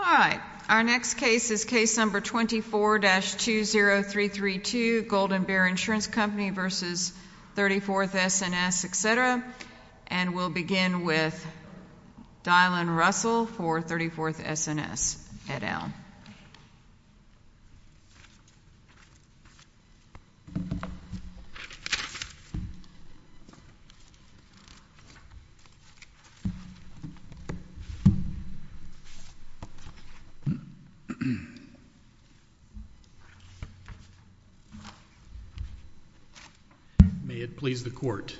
All right. Our next case is case number 24-20332, Golden Bear Insurance Company v. 34th S&S, etc. And we'll begin with Dylan Russell v. 34th S&S, et al. May it please the court.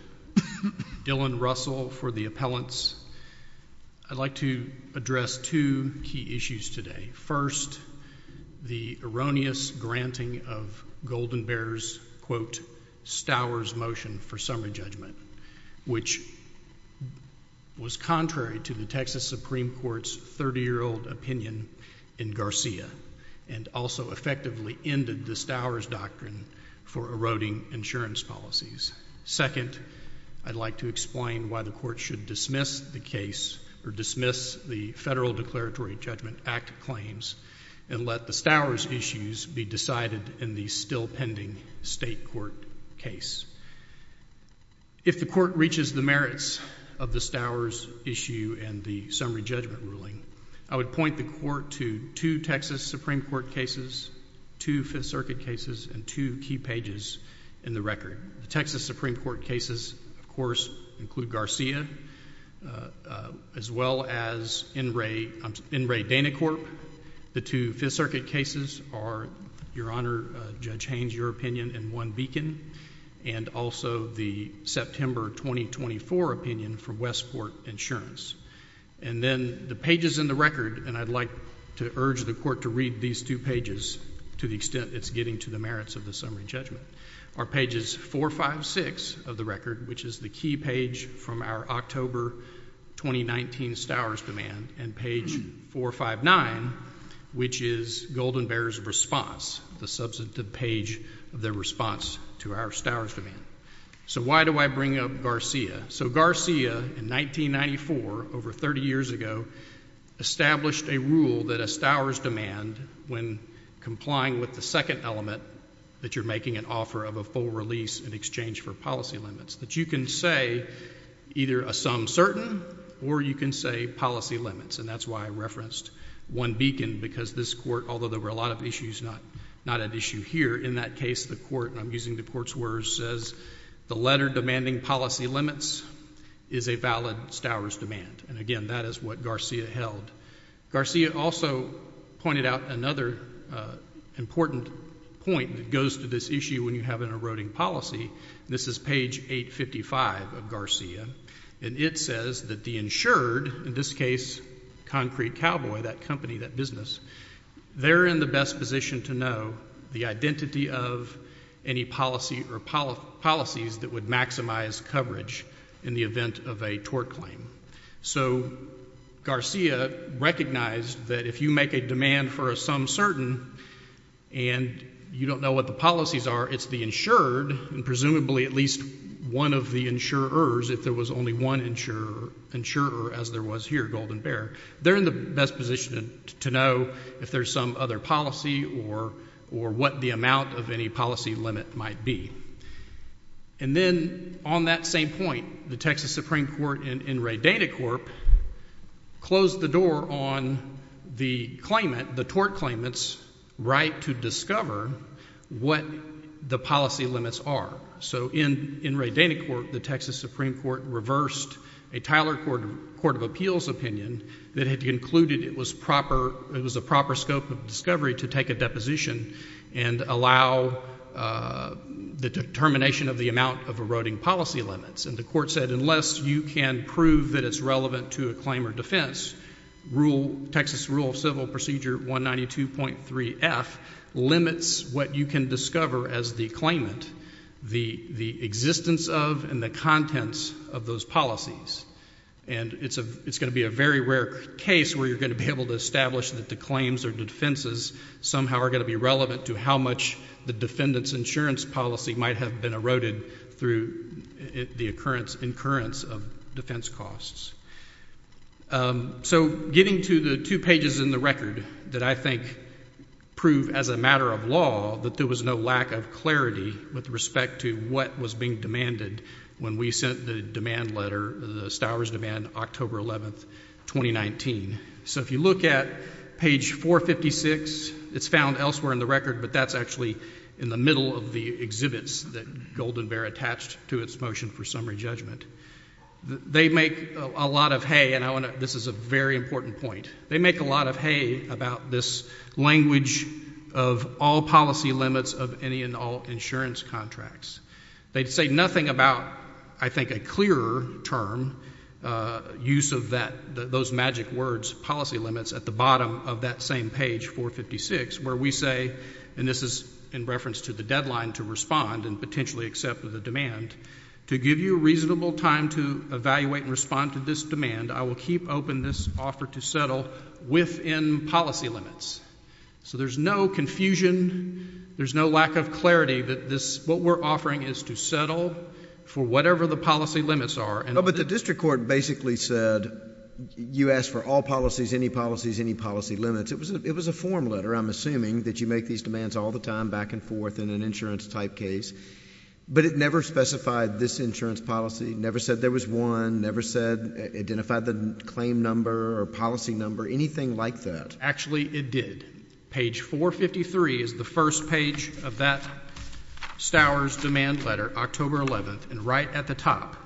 Dylan Russell for the appellants. I'd like to address two key issues today. First, the erroneous granting of Golden Bear's, quote, Stowers motion for summary judgment, which was contrary to the Texas Supreme Court's 30-year-old opinion in Garcia and also effectively ended the Stowers doctrine for eroding insurance policies. Second, I'd like to explain why the court should dismiss the case or dismiss the federal declaratory judgment act claims and let the Stowers issues be decided in the still pending state court case. If the court reaches the merits of the Stowers issue and the summary judgment ruling, I would point the court to two Texas Supreme Court cases, two Fifth Circuit cases, and two key pages in the record. The Texas Supreme Court cases, of course, include Garcia as well as N. Ray Danacorp. The two Fifth Circuit cases are, Your Honor, Judge Haynes, your opinion in one beacon and also the September 2024 opinion for Westport Insurance. And then the pages in the record, and I'd like to urge the court to read these two pages to the extent it's getting to the merits of the summary judgment, are pages 456 of the record, which is the key page from our October 2019 Stowers demand, and page 459, which is Golden Bear's response, the substantive page of their response to our Stowers demand. So why do I bring up Garcia? So Garcia in 1994, over 30 years ago, established a rule that a Stowers demand, when complying with the second element that you're making an offer of a full release in exchange for policy limits, that you can say either a sum certain or you can say policy limits. And that's why I referenced one beacon, because this court, although there were a lot of issues not at issue here, in that case the court, and I'm using the court's words, says the letter demanding policy limits is a valid Stowers demand. And, again, that is what Garcia held. Garcia also pointed out another important point that goes to this issue when you have an eroding policy, and this is page 855 of Garcia, and it says that the insured, in this case Concrete Cowboy, that company, that business, they're in the best position to know the identity of any policy or policies that would maximize coverage in the event of a tort claim. So Garcia recognized that if you make a demand for a sum certain and you don't know what the policies are, it's the insured, and presumably at least one of the insurers, if there was only one insurer, as there was here, Golden Bear, they're in the best position to know if there's some other policy or what the amount of any policy limit might be. And then on that same point, the Texas Supreme Court in Ray Danikorp closed the door on the claimant, the tort claimant's right to discover what the policy limits are. So in Ray Danikorp, the Texas Supreme Court reversed a Tyler Court of Appeals opinion that had concluded it was a proper scope of discovery to take a deposition and allow the determination of the amount of eroding policy limits. And the court said unless you can prove that it's relevant to a claim or defense, Texas Rule of Civil Procedure 192.3F limits what you can discover as the claimant, the existence of and the contents of those policies. And it's going to be a very rare case where you're going to be able to establish that the claims or defenses somehow are going to be relevant to how much the defendant's insurance policy might have been eroded through the occurrence of defense costs. So getting to the two pages in the record that I think prove as a matter of law that there was no lack of clarity with respect to what was being demanded when we sent the demand letter, the Stowers demand, October 11th, 2019. So if you look at page 456, it's found elsewhere in the record, but that's actually in the middle of the exhibits that Golden Bear attached to its motion for summary judgment. They make a lot of hay, and this is a very important point. They make a lot of hay about this language of all policy limits of any and all insurance contracts. They say nothing about, I think, a clearer term, use of that, those magic words, policy limits, at the bottom of that same page, 456, where we say, and this is in reference to the deadline to respond and potentially accept the demand, to give you a reasonable time to evaluate and respond to this demand, I will keep open this offer to settle within policy limits. So there's no confusion, there's no lack of clarity that this, what we're offering is to settle for whatever the policy limits are. Oh, but the district court basically said you asked for all policies, any policies, any policy limits. It was a form letter, I'm assuming, that you make these demands all the time, back and forth, in an insurance-type case, but it never specified this insurance policy, never said there was one, never said, identified the claim number or policy number, anything like that. Actually, it did. Page 453 is the first page of that Stowers demand letter, October 11th, and right at the top,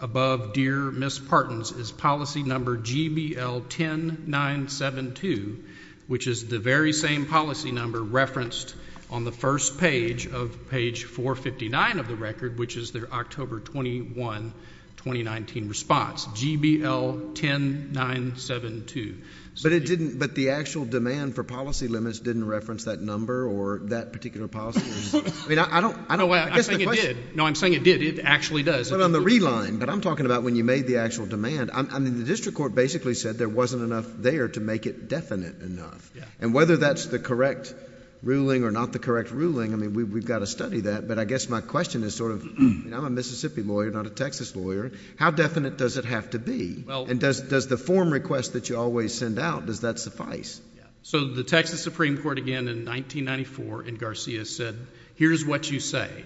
above Dear Miss Partons is policy number GBL 10972, which is the very same policy number referenced on the first page of page 459 of the record, which is their October 21, 2019 response, GBL 10972. But it didn't, but the actual demand for policy limits didn't reference that number or that particular policy? I mean, I don't, I guess the question is. No, I'm saying it did. It actually does. But on the re-line, what I'm talking about when you made the actual demand, I mean, the district court basically said there wasn't enough there to make it definite enough, and whether that's the correct ruling or not the correct ruling, I mean, we've got to study that, but I guess my question is sort of, I'm a Mississippi lawyer, not a Texas lawyer, how definite does it have to be, and does the form request that you always send out, does that suffice? So the Texas Supreme Court, again, in 1994 in Garcia said, here's what you say,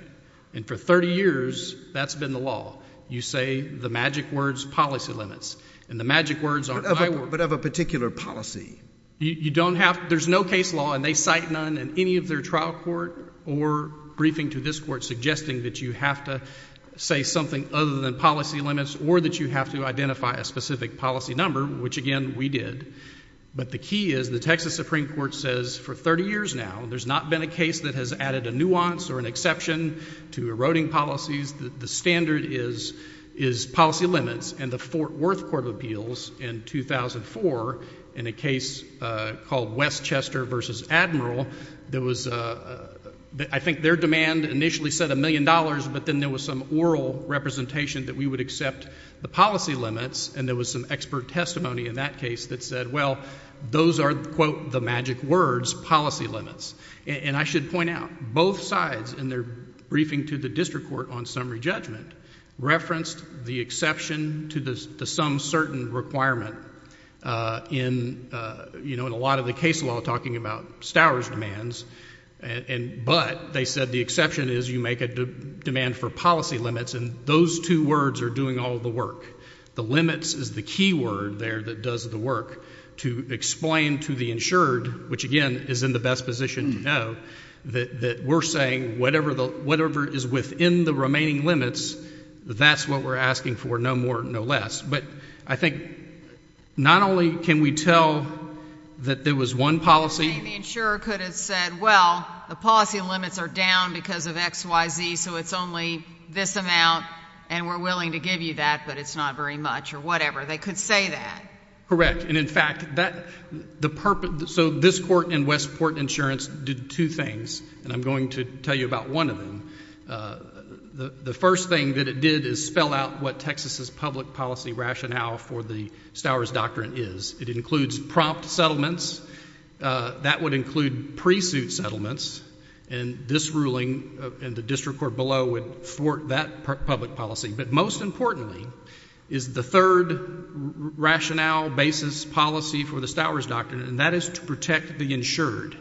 and for 30 years, that's been the law. You say the magic words, policy limits, and the magic words aren't my words. But of a particular policy? You don't have, there's no case law, and they cite none in any of their trial court or briefing to this court suggesting that you have to say something other than policy limits or that you have to identify a specific policy number, which again, we did. But the key is the Texas Supreme Court says for 30 years now, there's not been a case that has added a nuance or an exception to eroding policies. The standard is policy limits, and the Fort Worth Court of Appeals in 2004 in a case called Westchester versus Admiral, there was, I think their demand initially said a million dollars, but then there was some oral representation that we would accept the policy limits, and there was some expert testimony in that case that said, well, those are, quote, the magic words, policy limits. And I should point out, both sides in their briefing to the district court on summary judgment referenced the exception to the some certain requirement in a lot of the case law talking about Stowers demands, but they said the exception is you make a demand for policy limits, and those two words are doing all the work. The limits is the key word there that does the work to explain to the insured, which again, is in the best position to know, that we're saying whatever is within the remaining limits, that's what we're asking for, no more, no less. But I think not only can we tell that there was one policy. The insurer could have said, well, the policy limits are down because of X, Y, Z, so it's only this amount, and we're willing to give you that, but it's not very much, or whatever. They could say that. Correct. And in fact, that, the purpose, so this court and Westport Insurance did two things, and I'm going to tell you about one of them. The first thing that it did is spell out what Texas' public policy rationale for the Stowers Doctrine is. It includes prompt settlements. That would include pre-suit settlements, and this ruling and the district court below would thwart that public policy. But most importantly is the third rationale, basis, policy for the Stowers Doctrine, and that is to protect the insured.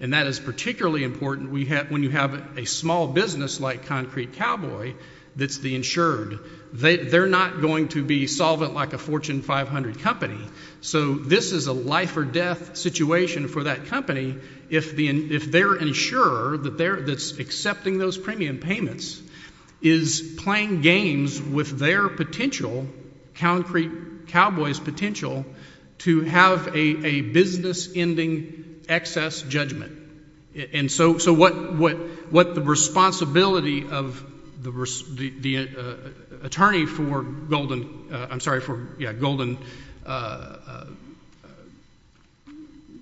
And that is particularly important when you have a small business like Concrete Cowboy that's the insured. They're not going to be solvent like a Fortune 500 company. So this is a life or death situation for that company if their insurer that's accepting those premium payments is playing games with their potential, Concrete Cowboy's potential, to have a business-ending excess judgment. And so what the responsibility of the attorney for Golden, I'm sorry for, yeah, Golden,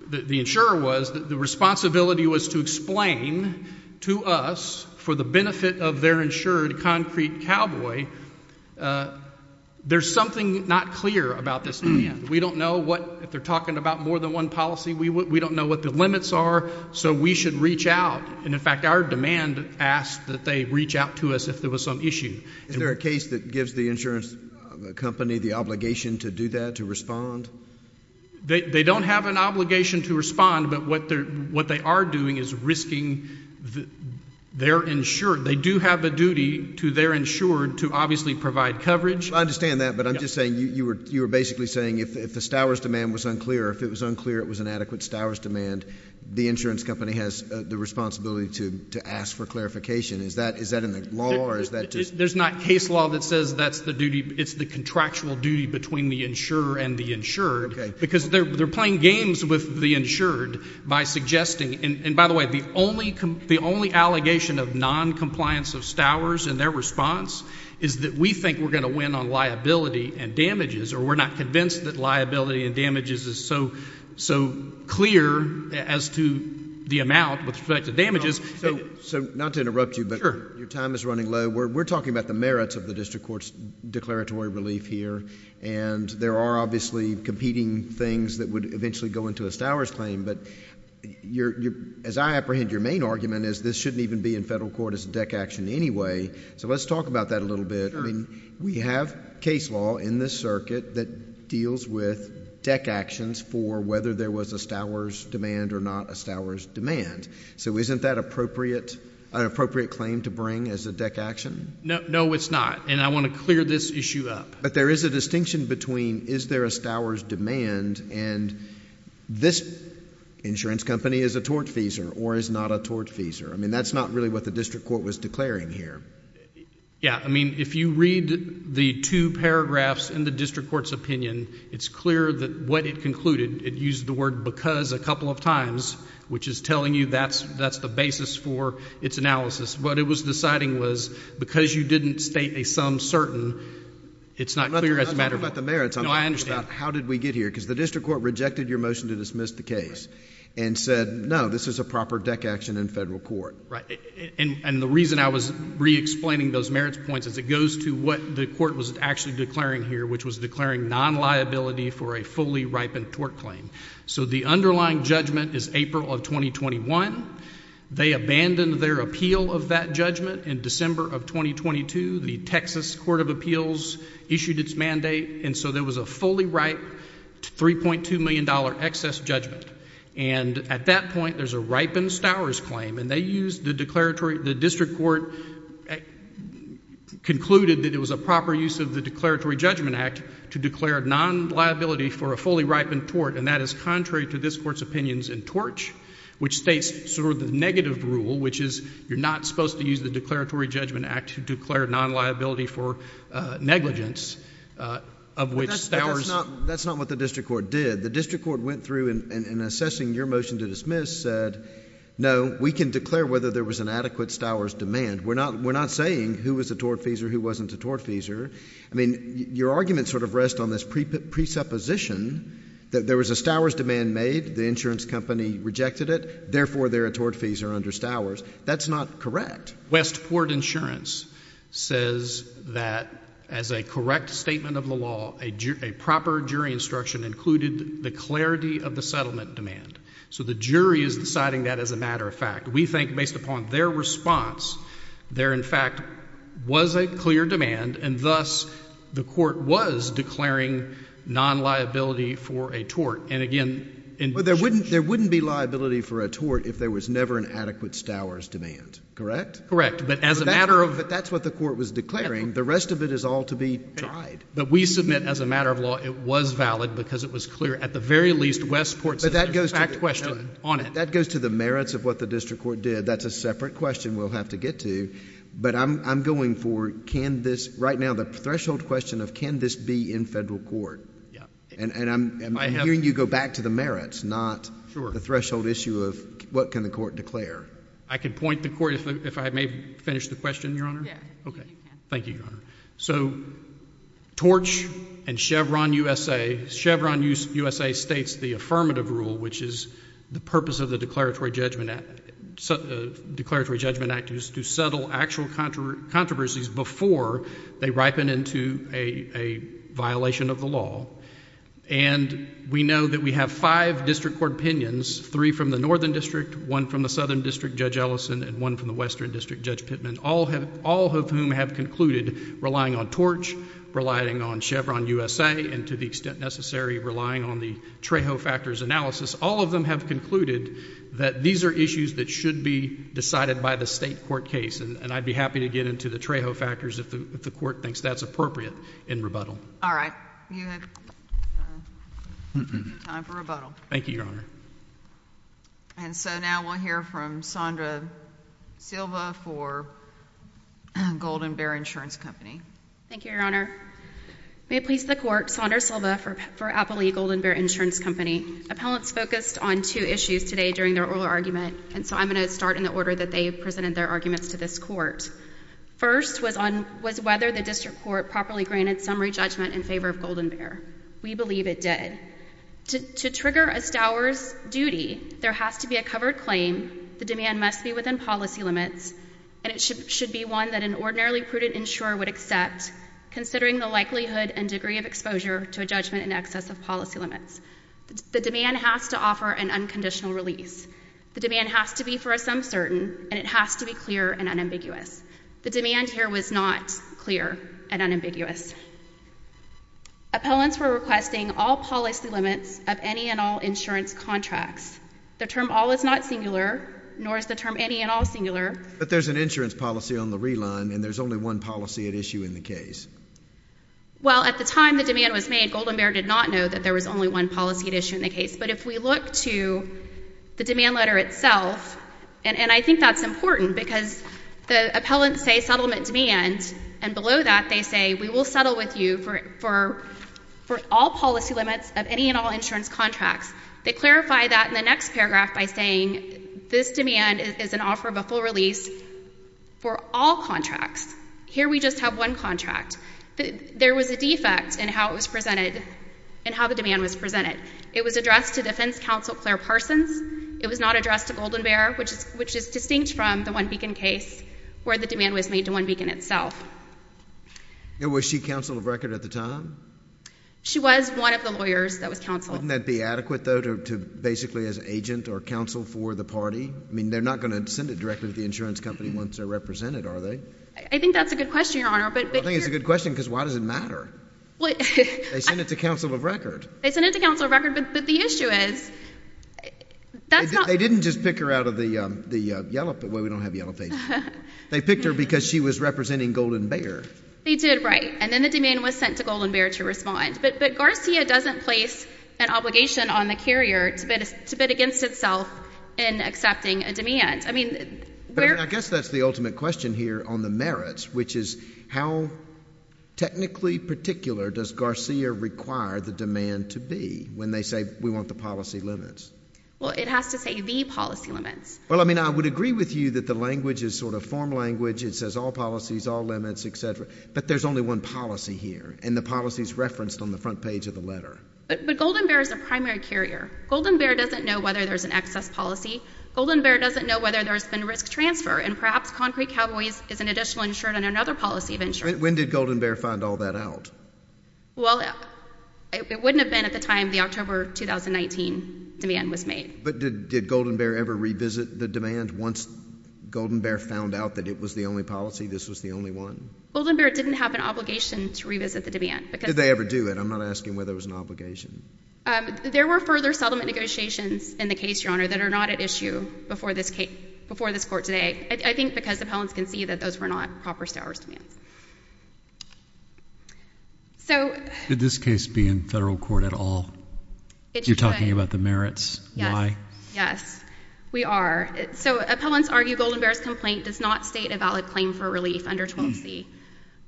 the insurer was, the responsibility was to explain to us for the benefit of their insured, Concrete Cowboy, there's something not clear about this plan. We don't know what, if they're talking about more than one policy, we don't know what the limits are, so we should reach out. And in fact, our demand asked that they reach out to us if there was some issue. Is there a case that gives the insurance company the obligation to do that, to respond? They don't have an obligation to respond, but what they are doing is risking their insured. They do have a duty to their insured to obviously provide coverage. I understand that, but I'm just saying, you were basically saying if the Stowers demand was unclear, if it was unclear it was an adequate Stowers demand, the insurance company has the responsibility to ask for clarification. Is that in the law, or is that just? There's not case law that says that's the duty, it's the contractual duty between the insurer and the insured. Okay. Because they're playing games with the insured by suggesting, and by the way, the only allegation of noncompliance of Stowers and their response is that we think we're going to win on liability and damages, or we're not convinced that liability and damages is so clear as to the amount with respect to damages. Not to interrupt you, but your time is running low. We're talking about the merits of the district court's declaratory relief here, and there are obviously competing things that would eventually go into a Stowers claim, but as I apprehend your main argument is this shouldn't even be in federal court as a DEC action anyway. Let's talk about that a little bit. We have case law in this circuit that deals with DEC actions for whether there was a Stowers demand or not a Stowers demand. So isn't that an appropriate claim to bring as a DEC action? No, it's not, and I want to clear this issue up. But there is a distinction between is there a Stowers demand and this insurance company is a tortfeasor or is not a tortfeasor. I mean that's not really what the district court was declaring here. Yeah. I mean if you read the two paragraphs in the district court's opinion, it's clear that what it concluded, it used the word because a couple of times, which is telling you that's the basis for its analysis. What it was deciding was because you didn't state a sum certain, it's not clear as a matter of— I'm not talking about the merits. No, I understand. I'm talking about how did we get here because the district court rejected your motion to dismiss the case and said no, this is a proper DEC action in federal court. Right, and the reason I was re-explaining those merits points is it goes to what the court was actually declaring here, which was declaring non-liability for a fully ripened tort claim. So the underlying judgment is April of 2021. They abandoned their appeal of that judgment in December of 2022. The Texas Court of Appeals issued its mandate, and so there was a fully ripe $3.2 million excess judgment. And at that point, there's a ripened Stowers claim, and they used the declaratory— The district court concluded that it was a proper use of the Declaratory Judgment Act to declare non-liability for a fully ripened tort, and that is contrary to this court's opinions in Torch, which states sort of the negative rule, which is you're not supposed to use the Declaratory Judgment Act to declare non-liability for negligence, of which Stowers— That's not what the district court did. The district court went through and assessing your motion to dismiss said, no, we can declare whether there was an adequate Stowers demand. We're not saying who was a tortfeasor, who wasn't a tortfeasor. I mean, your argument sort of rests on this presupposition that there was a Stowers demand made, the insurance company rejected it, therefore they're a tortfeasor under Stowers. That's not correct. Westport Insurance says that as a correct statement of the law, a proper jury instruction included the clarity of the settlement demand. So the jury is deciding that as a matter of fact. We think based upon their response, there in fact was a clear demand, and thus the court was declaring non-liability for a tort. And again— But there wouldn't be liability for a tort if there was never an adequate Stowers demand, correct? Correct. But as a matter of— But that's what the court was declaring. The rest of it is all to be tried. But we submit as a matter of law it was valid because it was clear at the very least Westport's fact question on it. That goes to the merits of what the district court did. That's a separate question we'll have to get to. But I'm going for can this—right now the threshold question of can this be in federal court? Yeah. And I'm hearing you go back to the merits, not the threshold issue of what can the court declare. I can point the court if I may finish the question, Your Honor. Yeah. Okay. Thank you, Your Honor. So Torch and Chevron USA—Chevron USA states the affirmative rule, which is the purpose of the Declaratory Judgment Act is to settle actual controversies before they ripen into a violation of the law. And we know that we have five district court opinions, three from the Northern District, one from the Southern District, Judge Ellison, and one from the Western District, Judge Pittman, all of whom have concluded relying on Torch, relying on Chevron USA, and to the extent necessary, relying on the Trejo factors analysis. All of them have concluded that these are issues that should be decided by the state court case. And I'd be happy to get into the Trejo factors if the court thinks that's appropriate in rebuttal. All right. You have time for rebuttal. Thank you, Your Honor. And so now we'll hear from Sondra Silva for Golden Bear Insurance Company. Thank you, Your Honor. May it please the court, Sondra Silva for Appley Golden Bear Insurance Company. Appellants focused on two issues today during their oral argument, and so I'm going to start in the order that they presented their arguments to this court. First was whether the district court properly granted summary judgment in favor of Golden Bear. We believe it did. To trigger a stower's duty, there has to be a covered claim, the demand must be within policy limits, and it should be one that an ordinarily prudent insurer would accept, considering the likelihood and degree of exposure to a judgment in excess of policy limits. The demand has to offer an unconditional release. The demand has to be for a sum certain, and it has to be clear and unambiguous. The demand here was not clear and unambiguous. Appellants were requesting all policy limits of any and all insurance contracts. The term all is not singular, nor is the term any and all singular. But there's an insurance policy on the reline, and there's only one policy at issue in the case. Well, at the time the demand was made, Golden Bear did not know that there was only one policy at issue in the case. But if we look to the demand letter itself, and I think that's important because the appellants say settlement demand, and below that they say we will settle with you for all policy limits of any and all insurance contracts. They clarify that in the next paragraph by saying this demand is an offer of a full release for all contracts. Here we just have one contract. There was a defect in how it was presented, in how the demand was presented. It was addressed to defense counsel Claire Parsons. It was not addressed to Golden Bear, which is distinct from the One Beacon case where the demand was made to One Beacon itself. Was she counsel of record at the time? She was one of the lawyers that was counsel. Wouldn't that be adequate, though, to basically as agent or counsel for the party? I mean, they're not going to send it directly to the insurance company once they're represented, are they? I think that's a good question, Your Honor. I think it's a good question because why does it matter? They send it to counsel of record. They send it to counsel of record, but the issue is that's not... They didn't just pick her out of the yellow... Well, we don't have yellow pages. They picked her because she was representing Golden Bear. They did, right. And then the demand was sent to Golden Bear to respond. But Garcia doesn't place an obligation on the carrier to bid against itself in accepting a demand. I mean, where... The ultimate question here on the merits, which is how technically particular does Garcia require the demand to be when they say, we want the policy limits? Well, it has to say the policy limits. Well, I mean, I would agree with you that the language is sort of form language. It says all policies, all limits, et cetera. But there's only one policy here, and the policy is referenced on the front page of the letter. But Golden Bear is a primary carrier. Golden Bear doesn't know whether there's an excess policy. Golden Bear doesn't know whether there's been risk transfer. And perhaps Concrete Cowboys is an additional insured on another policy of insurance. When did Golden Bear find all that out? Well, it wouldn't have been at the time the October 2019 demand was made. But did Golden Bear ever revisit the demand once Golden Bear found out that it was the only policy, this was the only one? Golden Bear didn't have an obligation to revisit the demand. Did they ever do it? I'm not asking whether it was an obligation. There were further settlement negotiations in the case, Your Honor, that are not at issue before this court today. I think because appellants can see that those were not proper Stowers demands. Did this case be in federal court at all? It should. You're talking about the merits. Why? Yes, we are. So appellants argue Golden Bear's complaint does not state a valid claim for relief under 12C.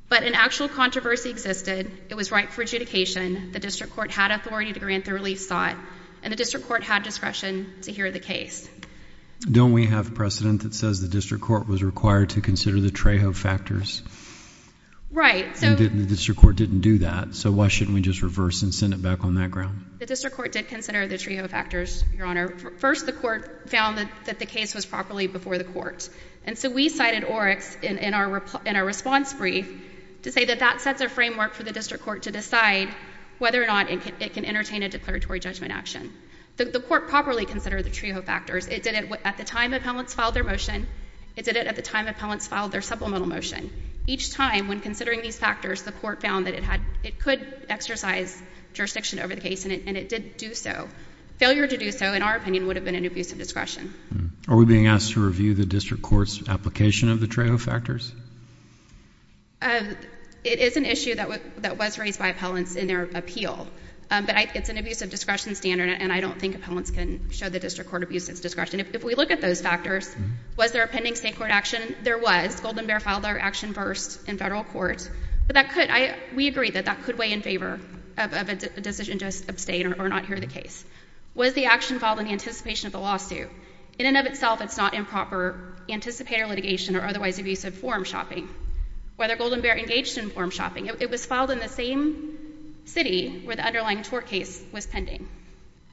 But an actual controversy existed. It was ripe for adjudication. The district court had authority to grant the relief sought. And the district court had discretion to hear the case. Don't we have precedent that says the district court was required to consider the Trejo factors? Right. And the district court didn't do that. So why shouldn't we just reverse and send it back on that ground? The district court did consider the Trejo factors, Your Honor. First, the court found that the case was properly before the court. And so we cited Oryx in our response brief to say that that sets a framework for the district court to decide whether or not it can entertain a declaratory judgment action. The court properly considered the Trejo factors. It did it at the time appellants filed their motion. It did it at the time appellants filed their supplemental motion. Each time, when considering these factors, the court found that it could exercise jurisdiction over the case. And it did do so. Failure to do so, in our opinion, would have been an abuse of discretion. Are we being asked to review the district court's application of the Trejo factors? It is an issue that was raised by appellants in their appeal. But it's an abuse of discretion standard, and I don't think appellants can show the district court abuse of discretion. If we look at those factors, was there a pending state court action? There was. Golden Bear filed their action first in federal court. But we agree that that could weigh in favor of a decision just abstained or not hear the case. Was the action filed in anticipation of the lawsuit? In and of itself, it's not improper anticipator litigation or otherwise abusive form shopping. Whether Golden Bear engaged in form shopping? It was filed in the same city where the underlying tort case was pending.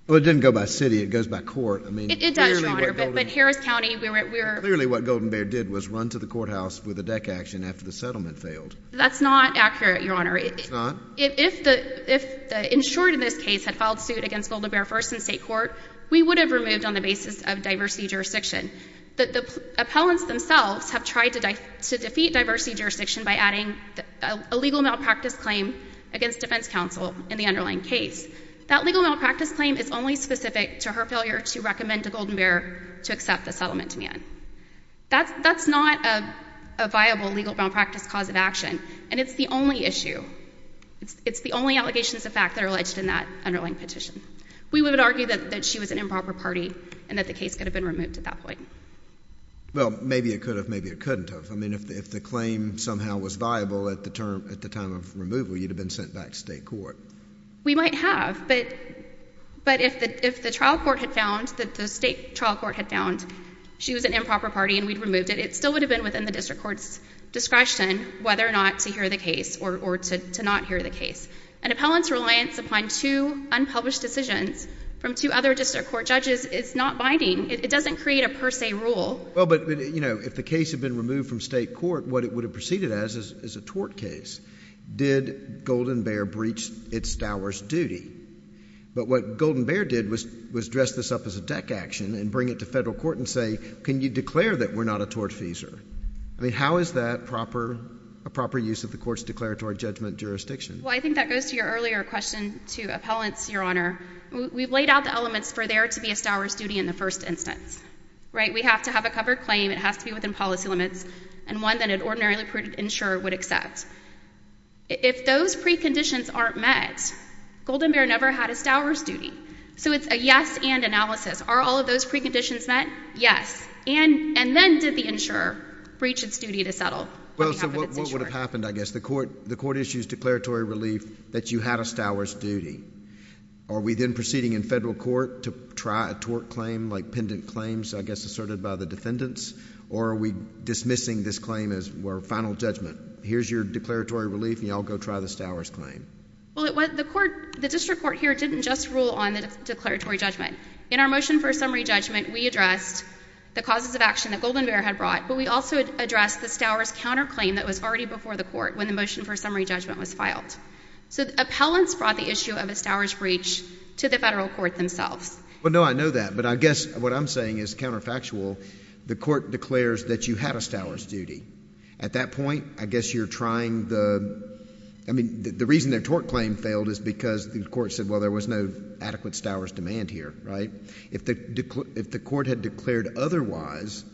Well, it didn't go by city. It goes by court. It does, Your Honor. But Harris County, we were— Clearly what Golden Bear did was run to the courthouse with a deck action after the settlement failed. That's not accurate, Your Honor. It's not? If the insured in this case had filed suit against Golden Bear first in state court, we would have removed on the basis of diversity jurisdiction. The appellants themselves have tried to defeat diversity jurisdiction by adding a legal malpractice claim against defense counsel in the underlying case. That legal malpractice claim is only specific to her failure to recommend to Golden Bear to accept the settlement demand. That's not a viable legal malpractice cause of action. And it's the only issue. It's the only allegations of fact that are alleged in that underlying petition. We would argue that she was an improper party and that the case could have been removed at that point. Well, maybe it could have. Maybe it couldn't have. I mean, if the claim somehow was viable at the time of removal, you'd have been sent back to state court. We might have. But if the trial court had found—the state trial court had found she was an improper party and we'd removed it, it still would have been within the district court's discretion whether or not to hear the case or to not hear the case. An appellant's reliance upon two unpublished decisions from two other district court judges is not binding. It doesn't create a per se rule. Well, but, you know, if the case had been removed from state court, what it would have proceeded as is a tort case. Did Golden Bear breach its dower's duty? But what Golden Bear did was dress this up as a deck action and bring it to federal court and say, can you declare that we're not a tortfeasor? I mean, how is that a proper use of the court's declaratory judgment jurisdiction? Well, I think that goes to your earlier question to appellants, Your Honor. We've laid out the elements for there to be a stower's duty in the first instance, right? We have to have a covered claim. It has to be within policy limits and one that an ordinarily approved insurer would accept. If those preconditions aren't met, Golden Bear never had a stower's duty. So it's a yes and analysis. Are all of those preconditions met? Yes. And then did the insurer breach its duty to settle? Well, so what would have happened, I guess? The court issues declaratory relief that you had a stower's duty. Are we then proceeding in federal court to try a tort claim, like pendant claims, I guess, asserted by the defendants? Or are we dismissing this claim as our final judgment? Here's your declaratory relief, and you all go try the stower's claim. Well, the district court here didn't just rule on the declaratory judgment. In our motion for summary judgment, we addressed the causes of action that Golden Bear had brought, but we also addressed the stower's counterclaim that was already before the court when the motion for summary judgment was filed. So appellants brought the issue of a stower's breach to the federal court themselves. Well, no, I know that, but I guess what I'm saying is counterfactual. The court declares that you had a stower's duty. At that point, I guess you're trying the—I mean, the reason their tort claim failed is because the court said, well, there was no adequate stower's demand here, right? If the court had declared otherwise,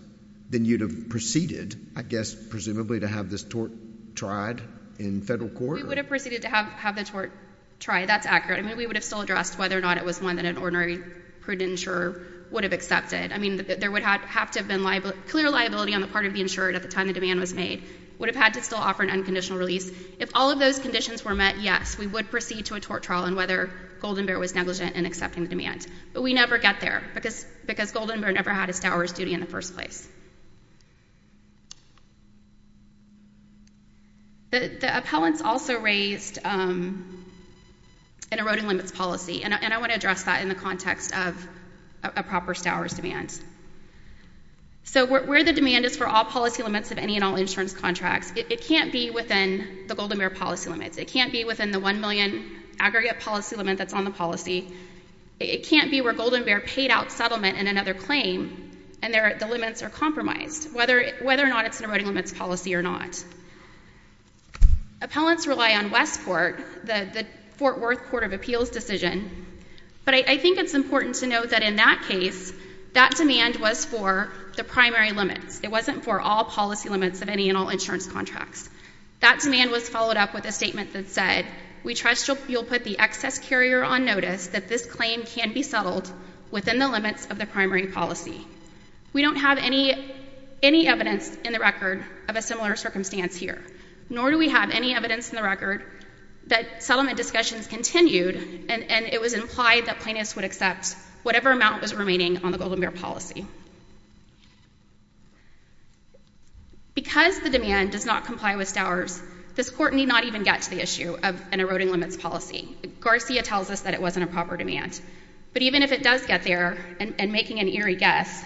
then you'd have proceeded, I guess, presumably, to have this tort tried in federal court? We would have proceeded to have the tort tried. That's accurate. I mean, we would have still addressed whether or not it was one that an ordinary prudent insurer would have accepted. I mean, there would have to have been clear liability on the part of the insurer at the time the demand was made. Would have had to still offer an unconditional release. If all of those conditions were met, yes, we would proceed to a tort trial on whether Golden Bear was negligent in accepting the demand. But we never get there because Golden Bear never had a stower's duty in the first place. The appellants also raised an eroding limits policy, and I want to address that in the context of a proper stower's demand. So where the demand is for all policy limits of any and all insurance contracts, it can't be within the Golden Bear policy limits. It can't be within the one million aggregate policy limit that's on the policy. It can't be where Golden Bear paid out settlement in another claim and the limits are compromised, whether or not it's an eroding limits policy or not. Appellants rely on Westport, the Fort Worth Court of Appeals decision, but I think it's important to note that in that case, that demand was for the primary limits. It wasn't for all policy limits of any and all insurance contracts. That demand was followed up with a statement that said, we trust you'll put the excess carrier on notice that this claim can be settled within the limits of the primary policy. We don't have any evidence in the record of a similar circumstance here, nor do we have any evidence in the record that settlement discussions continued and it was implied that plaintiffs would accept whatever amount was remaining on the Golden Bear policy. Because the demand does not comply with Stowers, this court need not even get to the issue of an eroding limits policy. Garcia tells us that it wasn't a proper demand, but even if it does get there, and making an eerie guess,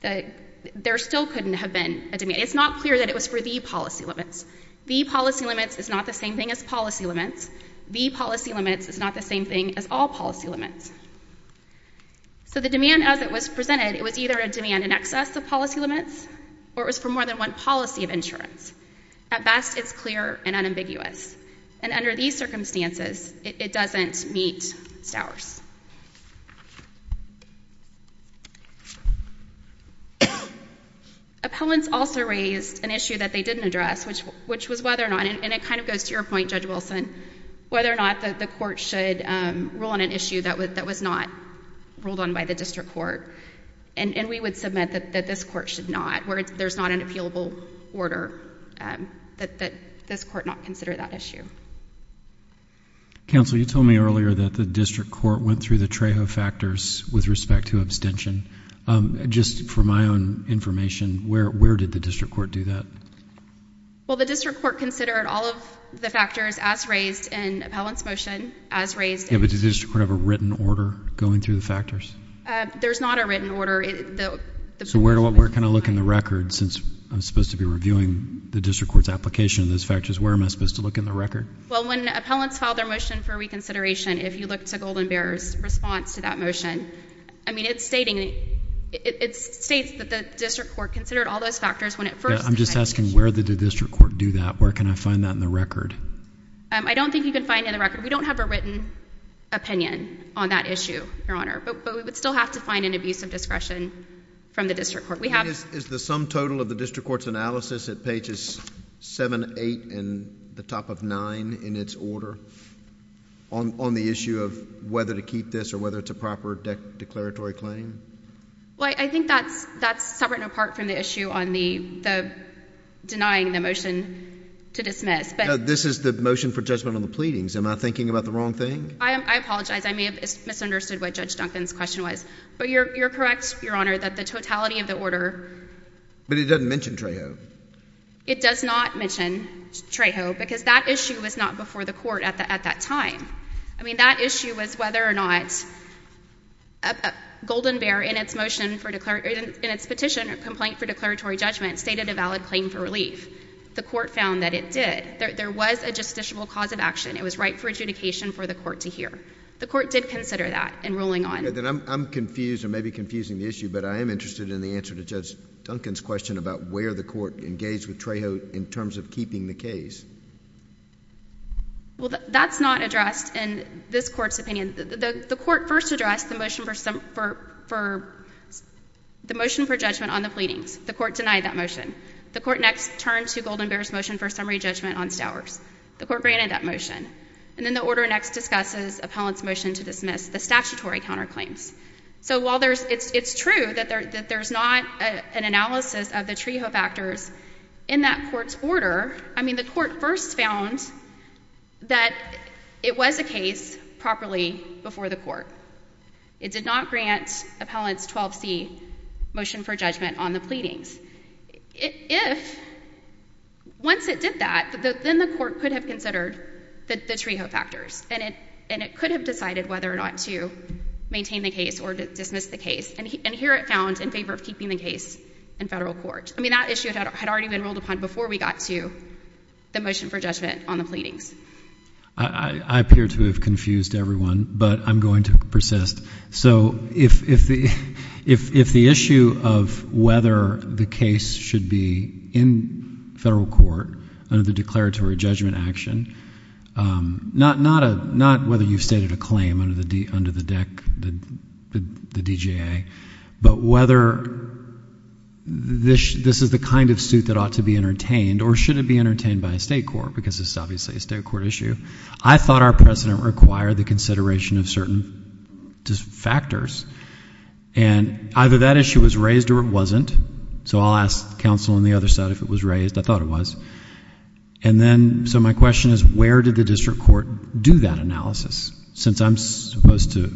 there still couldn't have been a demand. It's not clear that it was for the policy limits. The policy limits is not the same thing as policy limits. The policy limits is not the same thing as all policy limits. So the demand as it was presented, it was either a demand in excess of policy limits, or it was for more than one policy of insurance. At best, it's clear and unambiguous. And under these circumstances, it doesn't meet Stowers. Appellants also raised an issue that they didn't address, which was whether or not, and it kind of goes to your point, Judge Wilson, whether or not the court should rule on an issue that was not ruled on by the district court. And we would submit that this court should not, where there's not an appealable order, that this court not consider that issue. Counsel, you told me earlier that the district court went through the Trejo factors with respect to abstention. Just for my own information, where did the district court do that? Well, the district court considered all of the factors as raised in the appellant's motion as raised. Yeah, but does the district court have a written order going through the factors? There's not a written order. So where can I look in the record, since I'm supposed to be reviewing the district court's application of those factors, where am I supposed to look in the record? Well, when appellants file their motion for reconsideration, if you look to Golden Bear's response to that motion, I mean, it's stating, it states that the district court considered all those factors when it first. Yeah, I'm just asking where did the district court do that? Where can I find that in the record? I don't think you can find it in the record. We don't have a written opinion on that issue, Your Honor. But we would still have to find an abuse of discretion from the district court. Is the sum total of the district court's analysis at pages 7, 8, and the top of 9 in its order on the issue of whether to keep this or whether it's a proper declaratory claim? Well, I think that's separate and apart from the issue on the denying the motion to dismiss. No, this is the motion for judgment on the pleadings. Am I thinking about the wrong thing? I apologize. I may have misunderstood what Judge Duncan's question was. But you're correct, Your Honor, that the totality of the order But it doesn't mention Trejo. It does not mention Trejo because that issue was not before the court at that time. I mean, that issue was whether or not Golden Bear in its petition complaint for declaratory judgment stated a valid claim for relief. The court found that it did. There was a justiciable cause of action. It was right for adjudication for the court to hear. The court did consider that in ruling on it. I'm confused, or maybe confusing the issue, but I am interested in the answer to Judge Duncan's question about where the court engaged with Trejo in terms of keeping the case. Well, that's not addressed in this court's opinion. The court first addressed the motion for judgment on the pleadings. The court denied that motion. The court next turned to Golden Bear's motion for summary judgment on Stowers. The court granted that motion. And then the order next discusses Appellant's motion to dismiss the statutory counterclaims. So while it's true that there's not an analysis of the Trejo factors in that court's order, I mean, the court first found that it was a case properly before the court. It did not grant Appellant's 12C motion for judgment on the pleadings. Once it did that, then the court could have considered the Trejo factors. And it could have decided whether or not to maintain the case or dismiss the case. And here it found in favor of keeping the case in federal court. I mean, that issue had already been ruled upon before we got to the motion for judgment on the pleadings. I appear to have confused everyone, but I'm going to persist. So if the issue of whether the case should be in federal court under the declaratory judgment action, not whether you've stated a claim under the DGA, but whether this is the kind of suit that ought to be entertained or should it be entertained by a state court, because this is obviously a state court issue, I thought our precedent required the consideration of certain factors. And either that issue was raised or it wasn't. So I'll ask counsel on the other side if it was raised. I thought it was. And then, so my question is, where did the district court do that analysis? Since I'm supposed to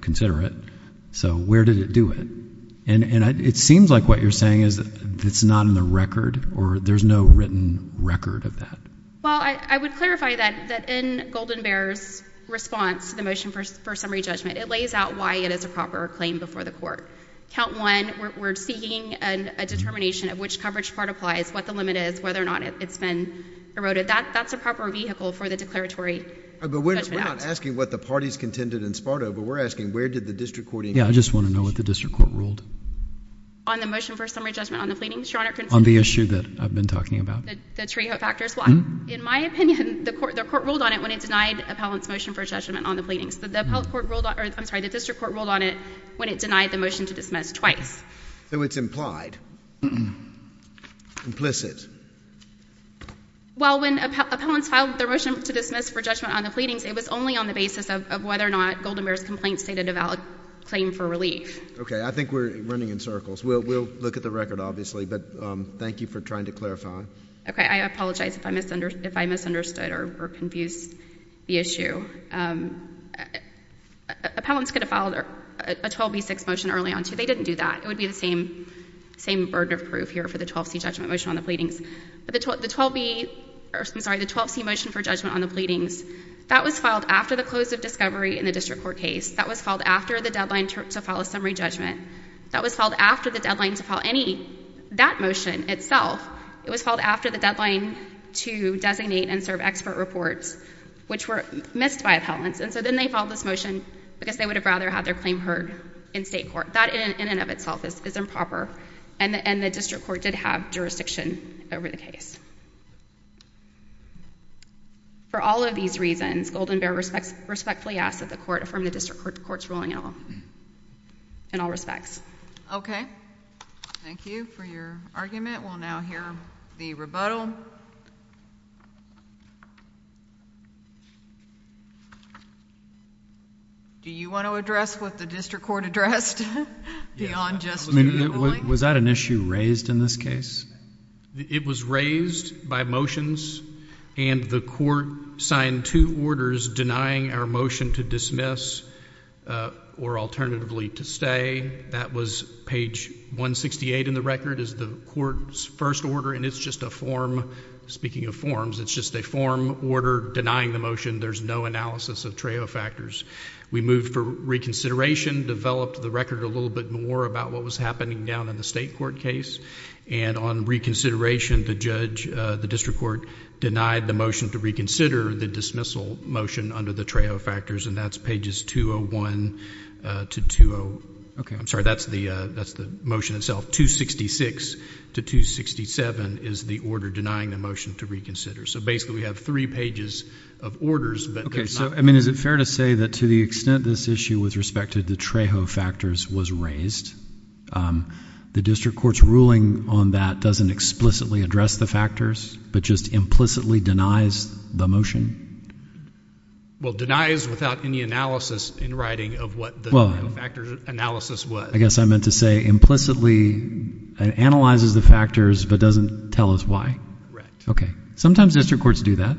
consider it. So where did it do it? And it seems like what you're saying is that it's not in the record or there's no written record of that. Well, I would clarify that in Golden Bear's response to the motion for summary judgment. It lays out why it is a proper claim before the court. Count one, we're seeking a determination of which coverage part applies, what the limit is, whether or not it's been eroded. That's a proper vehicle for the declaratory judgment act. But we're not asking what the parties contended in SPARTA, but we're asking where did the district court... Yeah, I just want to know what the district court ruled. On the issue that I've been talking about? In my opinion, the court ruled on it when it denied appellant's motion for judgment on the pleadings. The district court ruled on it when it denied the motion to dismiss twice. So it's implied. Implicit. Well, when appellants filed their motion to dismiss for judgment on the pleadings, it was only on the basis of whether or not Golden Bear's complaint stated a valid claim for relief. Okay, I think we're running in circles. We'll look at the record, obviously. But thank you for trying to clarify. Okay, I apologize if I misunderstood or confused the issue. Appellants could have filed a 12B6 motion early on too. They didn't do that. It would be the same burden of proof here for the 12C judgment motion on the pleadings. The 12C motion for judgment on the pleadings, that was filed after the close of discovery in the district court case. That was filed after the deadline to file a summary judgment. That was filed after the deadline to file any, that motion itself, it was filed after the deadline to designate and serve expert reports, which were missed by appellants. And so then they filed this motion because they would have rather had their claim heard in state court. That in and of itself is improper. And the district court did have jurisdiction over the case. For all of these reasons, Golden Bear respectfully asks that the court affirm the district court's ruling in all respects. Okay. Thank you for your argument. We'll now hear the rebuttal. Do you want to address what the district court addressed? Beyond just the ruling? Was that an issue raised in this case? It was raised by motions and the court signed two orders denying our motion to dismiss or alternatively to stay. That was page 168 in the record as the court's first order and it's just a form, speaking of forms, it's just a form order denying the motion. There's no analysis of TRAO factors. We moved for reconsideration, developed the record a little bit more about what was happening down in the state court case and on reconsideration the judge, the district court, denied the motion to reconsider the dismissal motion under the TRAO factors and that's pages 201 to 20... I'm sorry, that's the motion itself. 266 to 267 is the order denying the motion to reconsider. So basically we have three pages of orders. Is it fair to say that to the extent this issue with respect to the TRAO factors was raised the district court's ruling on that doesn't explicitly address the factors but just implicitly denies the motion? Well, denies without any analysis in writing of what the TRAO factors analysis was. I guess I meant to say implicitly analyzes the factors but doesn't tell us why. Sometimes district courts do that.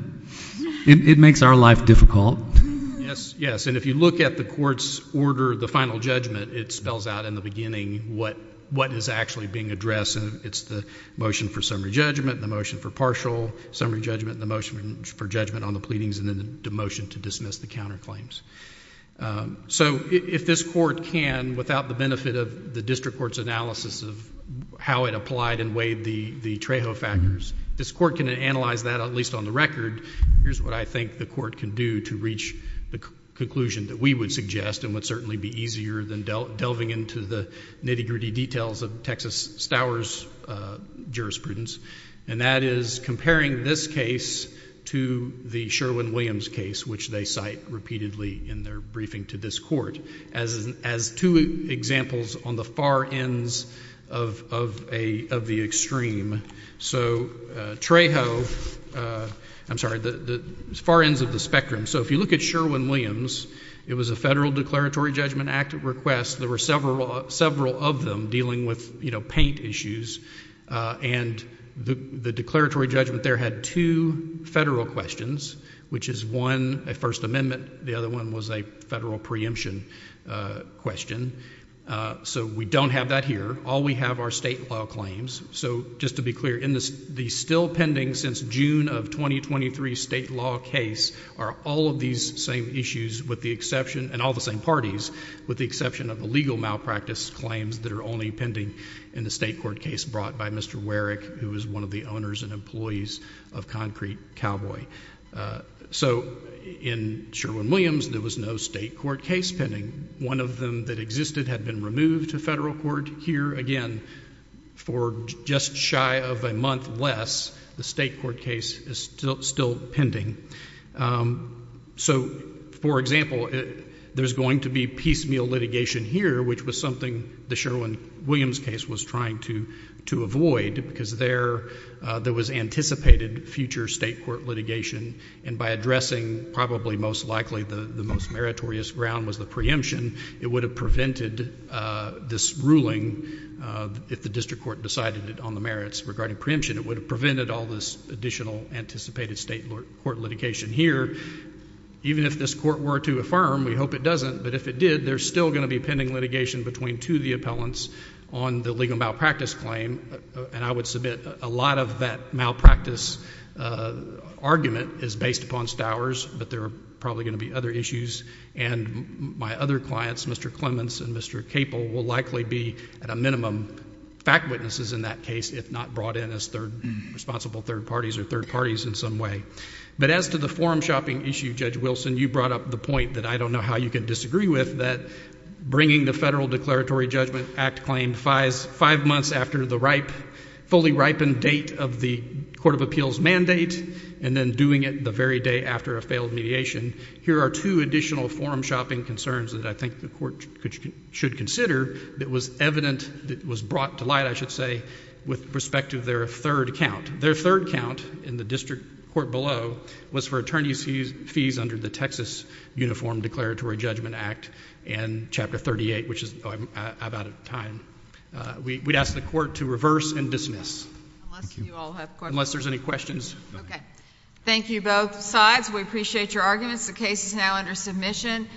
It makes our life difficult. Yes, and if you look at the court's order, the final judgment it spells out in the beginning what is actually being addressed and it's the motion for summary judgment, the motion for partial summary judgment, the motion for judgment on the pleadings and then the motion to dismiss the counterclaims. So if this court can, without the benefit of the district court's analysis of how it applied and weighed the TRAO factors, this court can analyze that at least on the record here's what I think the court can do to reach the conclusion that we would suggest and would certainly be easier than delving into the nitty-gritty details of Texas Stowers' jurisprudence and that is comparing this case to the Sherwin-Williams case which they cite repeatedly in their briefing to this court as two examples on the far ends of the extreme. So TRAO I'm sorry, the far ends of the spectrum So if you look at Sherwin-Williams, it was a federal declaratory judgment active request, there were several of them dealing with paint issues and the declaratory judgment there had two federal questions, which is one a First Amendment the other one was a federal preemption question, so we don't have that here all we have are state law claims so just to be clear, the still pending since June of 2023 state law case are all of these same issues with the exception, and all the same parties with the exception of the legal malpractice claims that are only pending in the state court case brought by Mr. Warrick who is one of the owners and employees of Concrete Cowboy So in Sherwin-Williams there was no state court case pending one of them that existed had been removed to federal court here again for just shy of a month less the state court case is still pending So for example there's going to be piecemeal litigation here which was something the Sherwin-Williams case was trying to avoid because there was anticipated future state court litigation and by addressing probably most likely the most meritorious ground was the preemption, it would have prevented this ruling if the district court decided regarding preemption, it would have prevented all this additional anticipated state court litigation here even if this court were to affirm, we hope it doesn't but if it did, there's still going to be pending litigation between two of the appellants on the legal malpractice claim and I would submit a lot of that malpractice argument is based upon Stowers but there are probably going to be other issues and my other clients, Mr. Clements and Mr. Capel will likely be, at a minimum, fact witnesses in that case if not brought in as responsible third parties or third parties in some way but as to the forum shopping issue, Judge Wilson you brought up the point that I don't know how you can disagree with that bringing the Federal Declaratory Judgment Act claim five months after the fully ripened date of the Court of Appeals mandate and then doing it the very day after a failed mediation here are two additional forum shopping concerns that I think the Court should consider that was evident that was brought to light, I should say, with respect to their third count their third count in the district court below was for attorney's fees under the Texas Uniform Declaratory Judgment Act and Chapter 38, which I'm out of time we'd ask the Court to reverse and dismiss unless there's any questions Thank you both sides, we appreciate your arguments the case is now under submission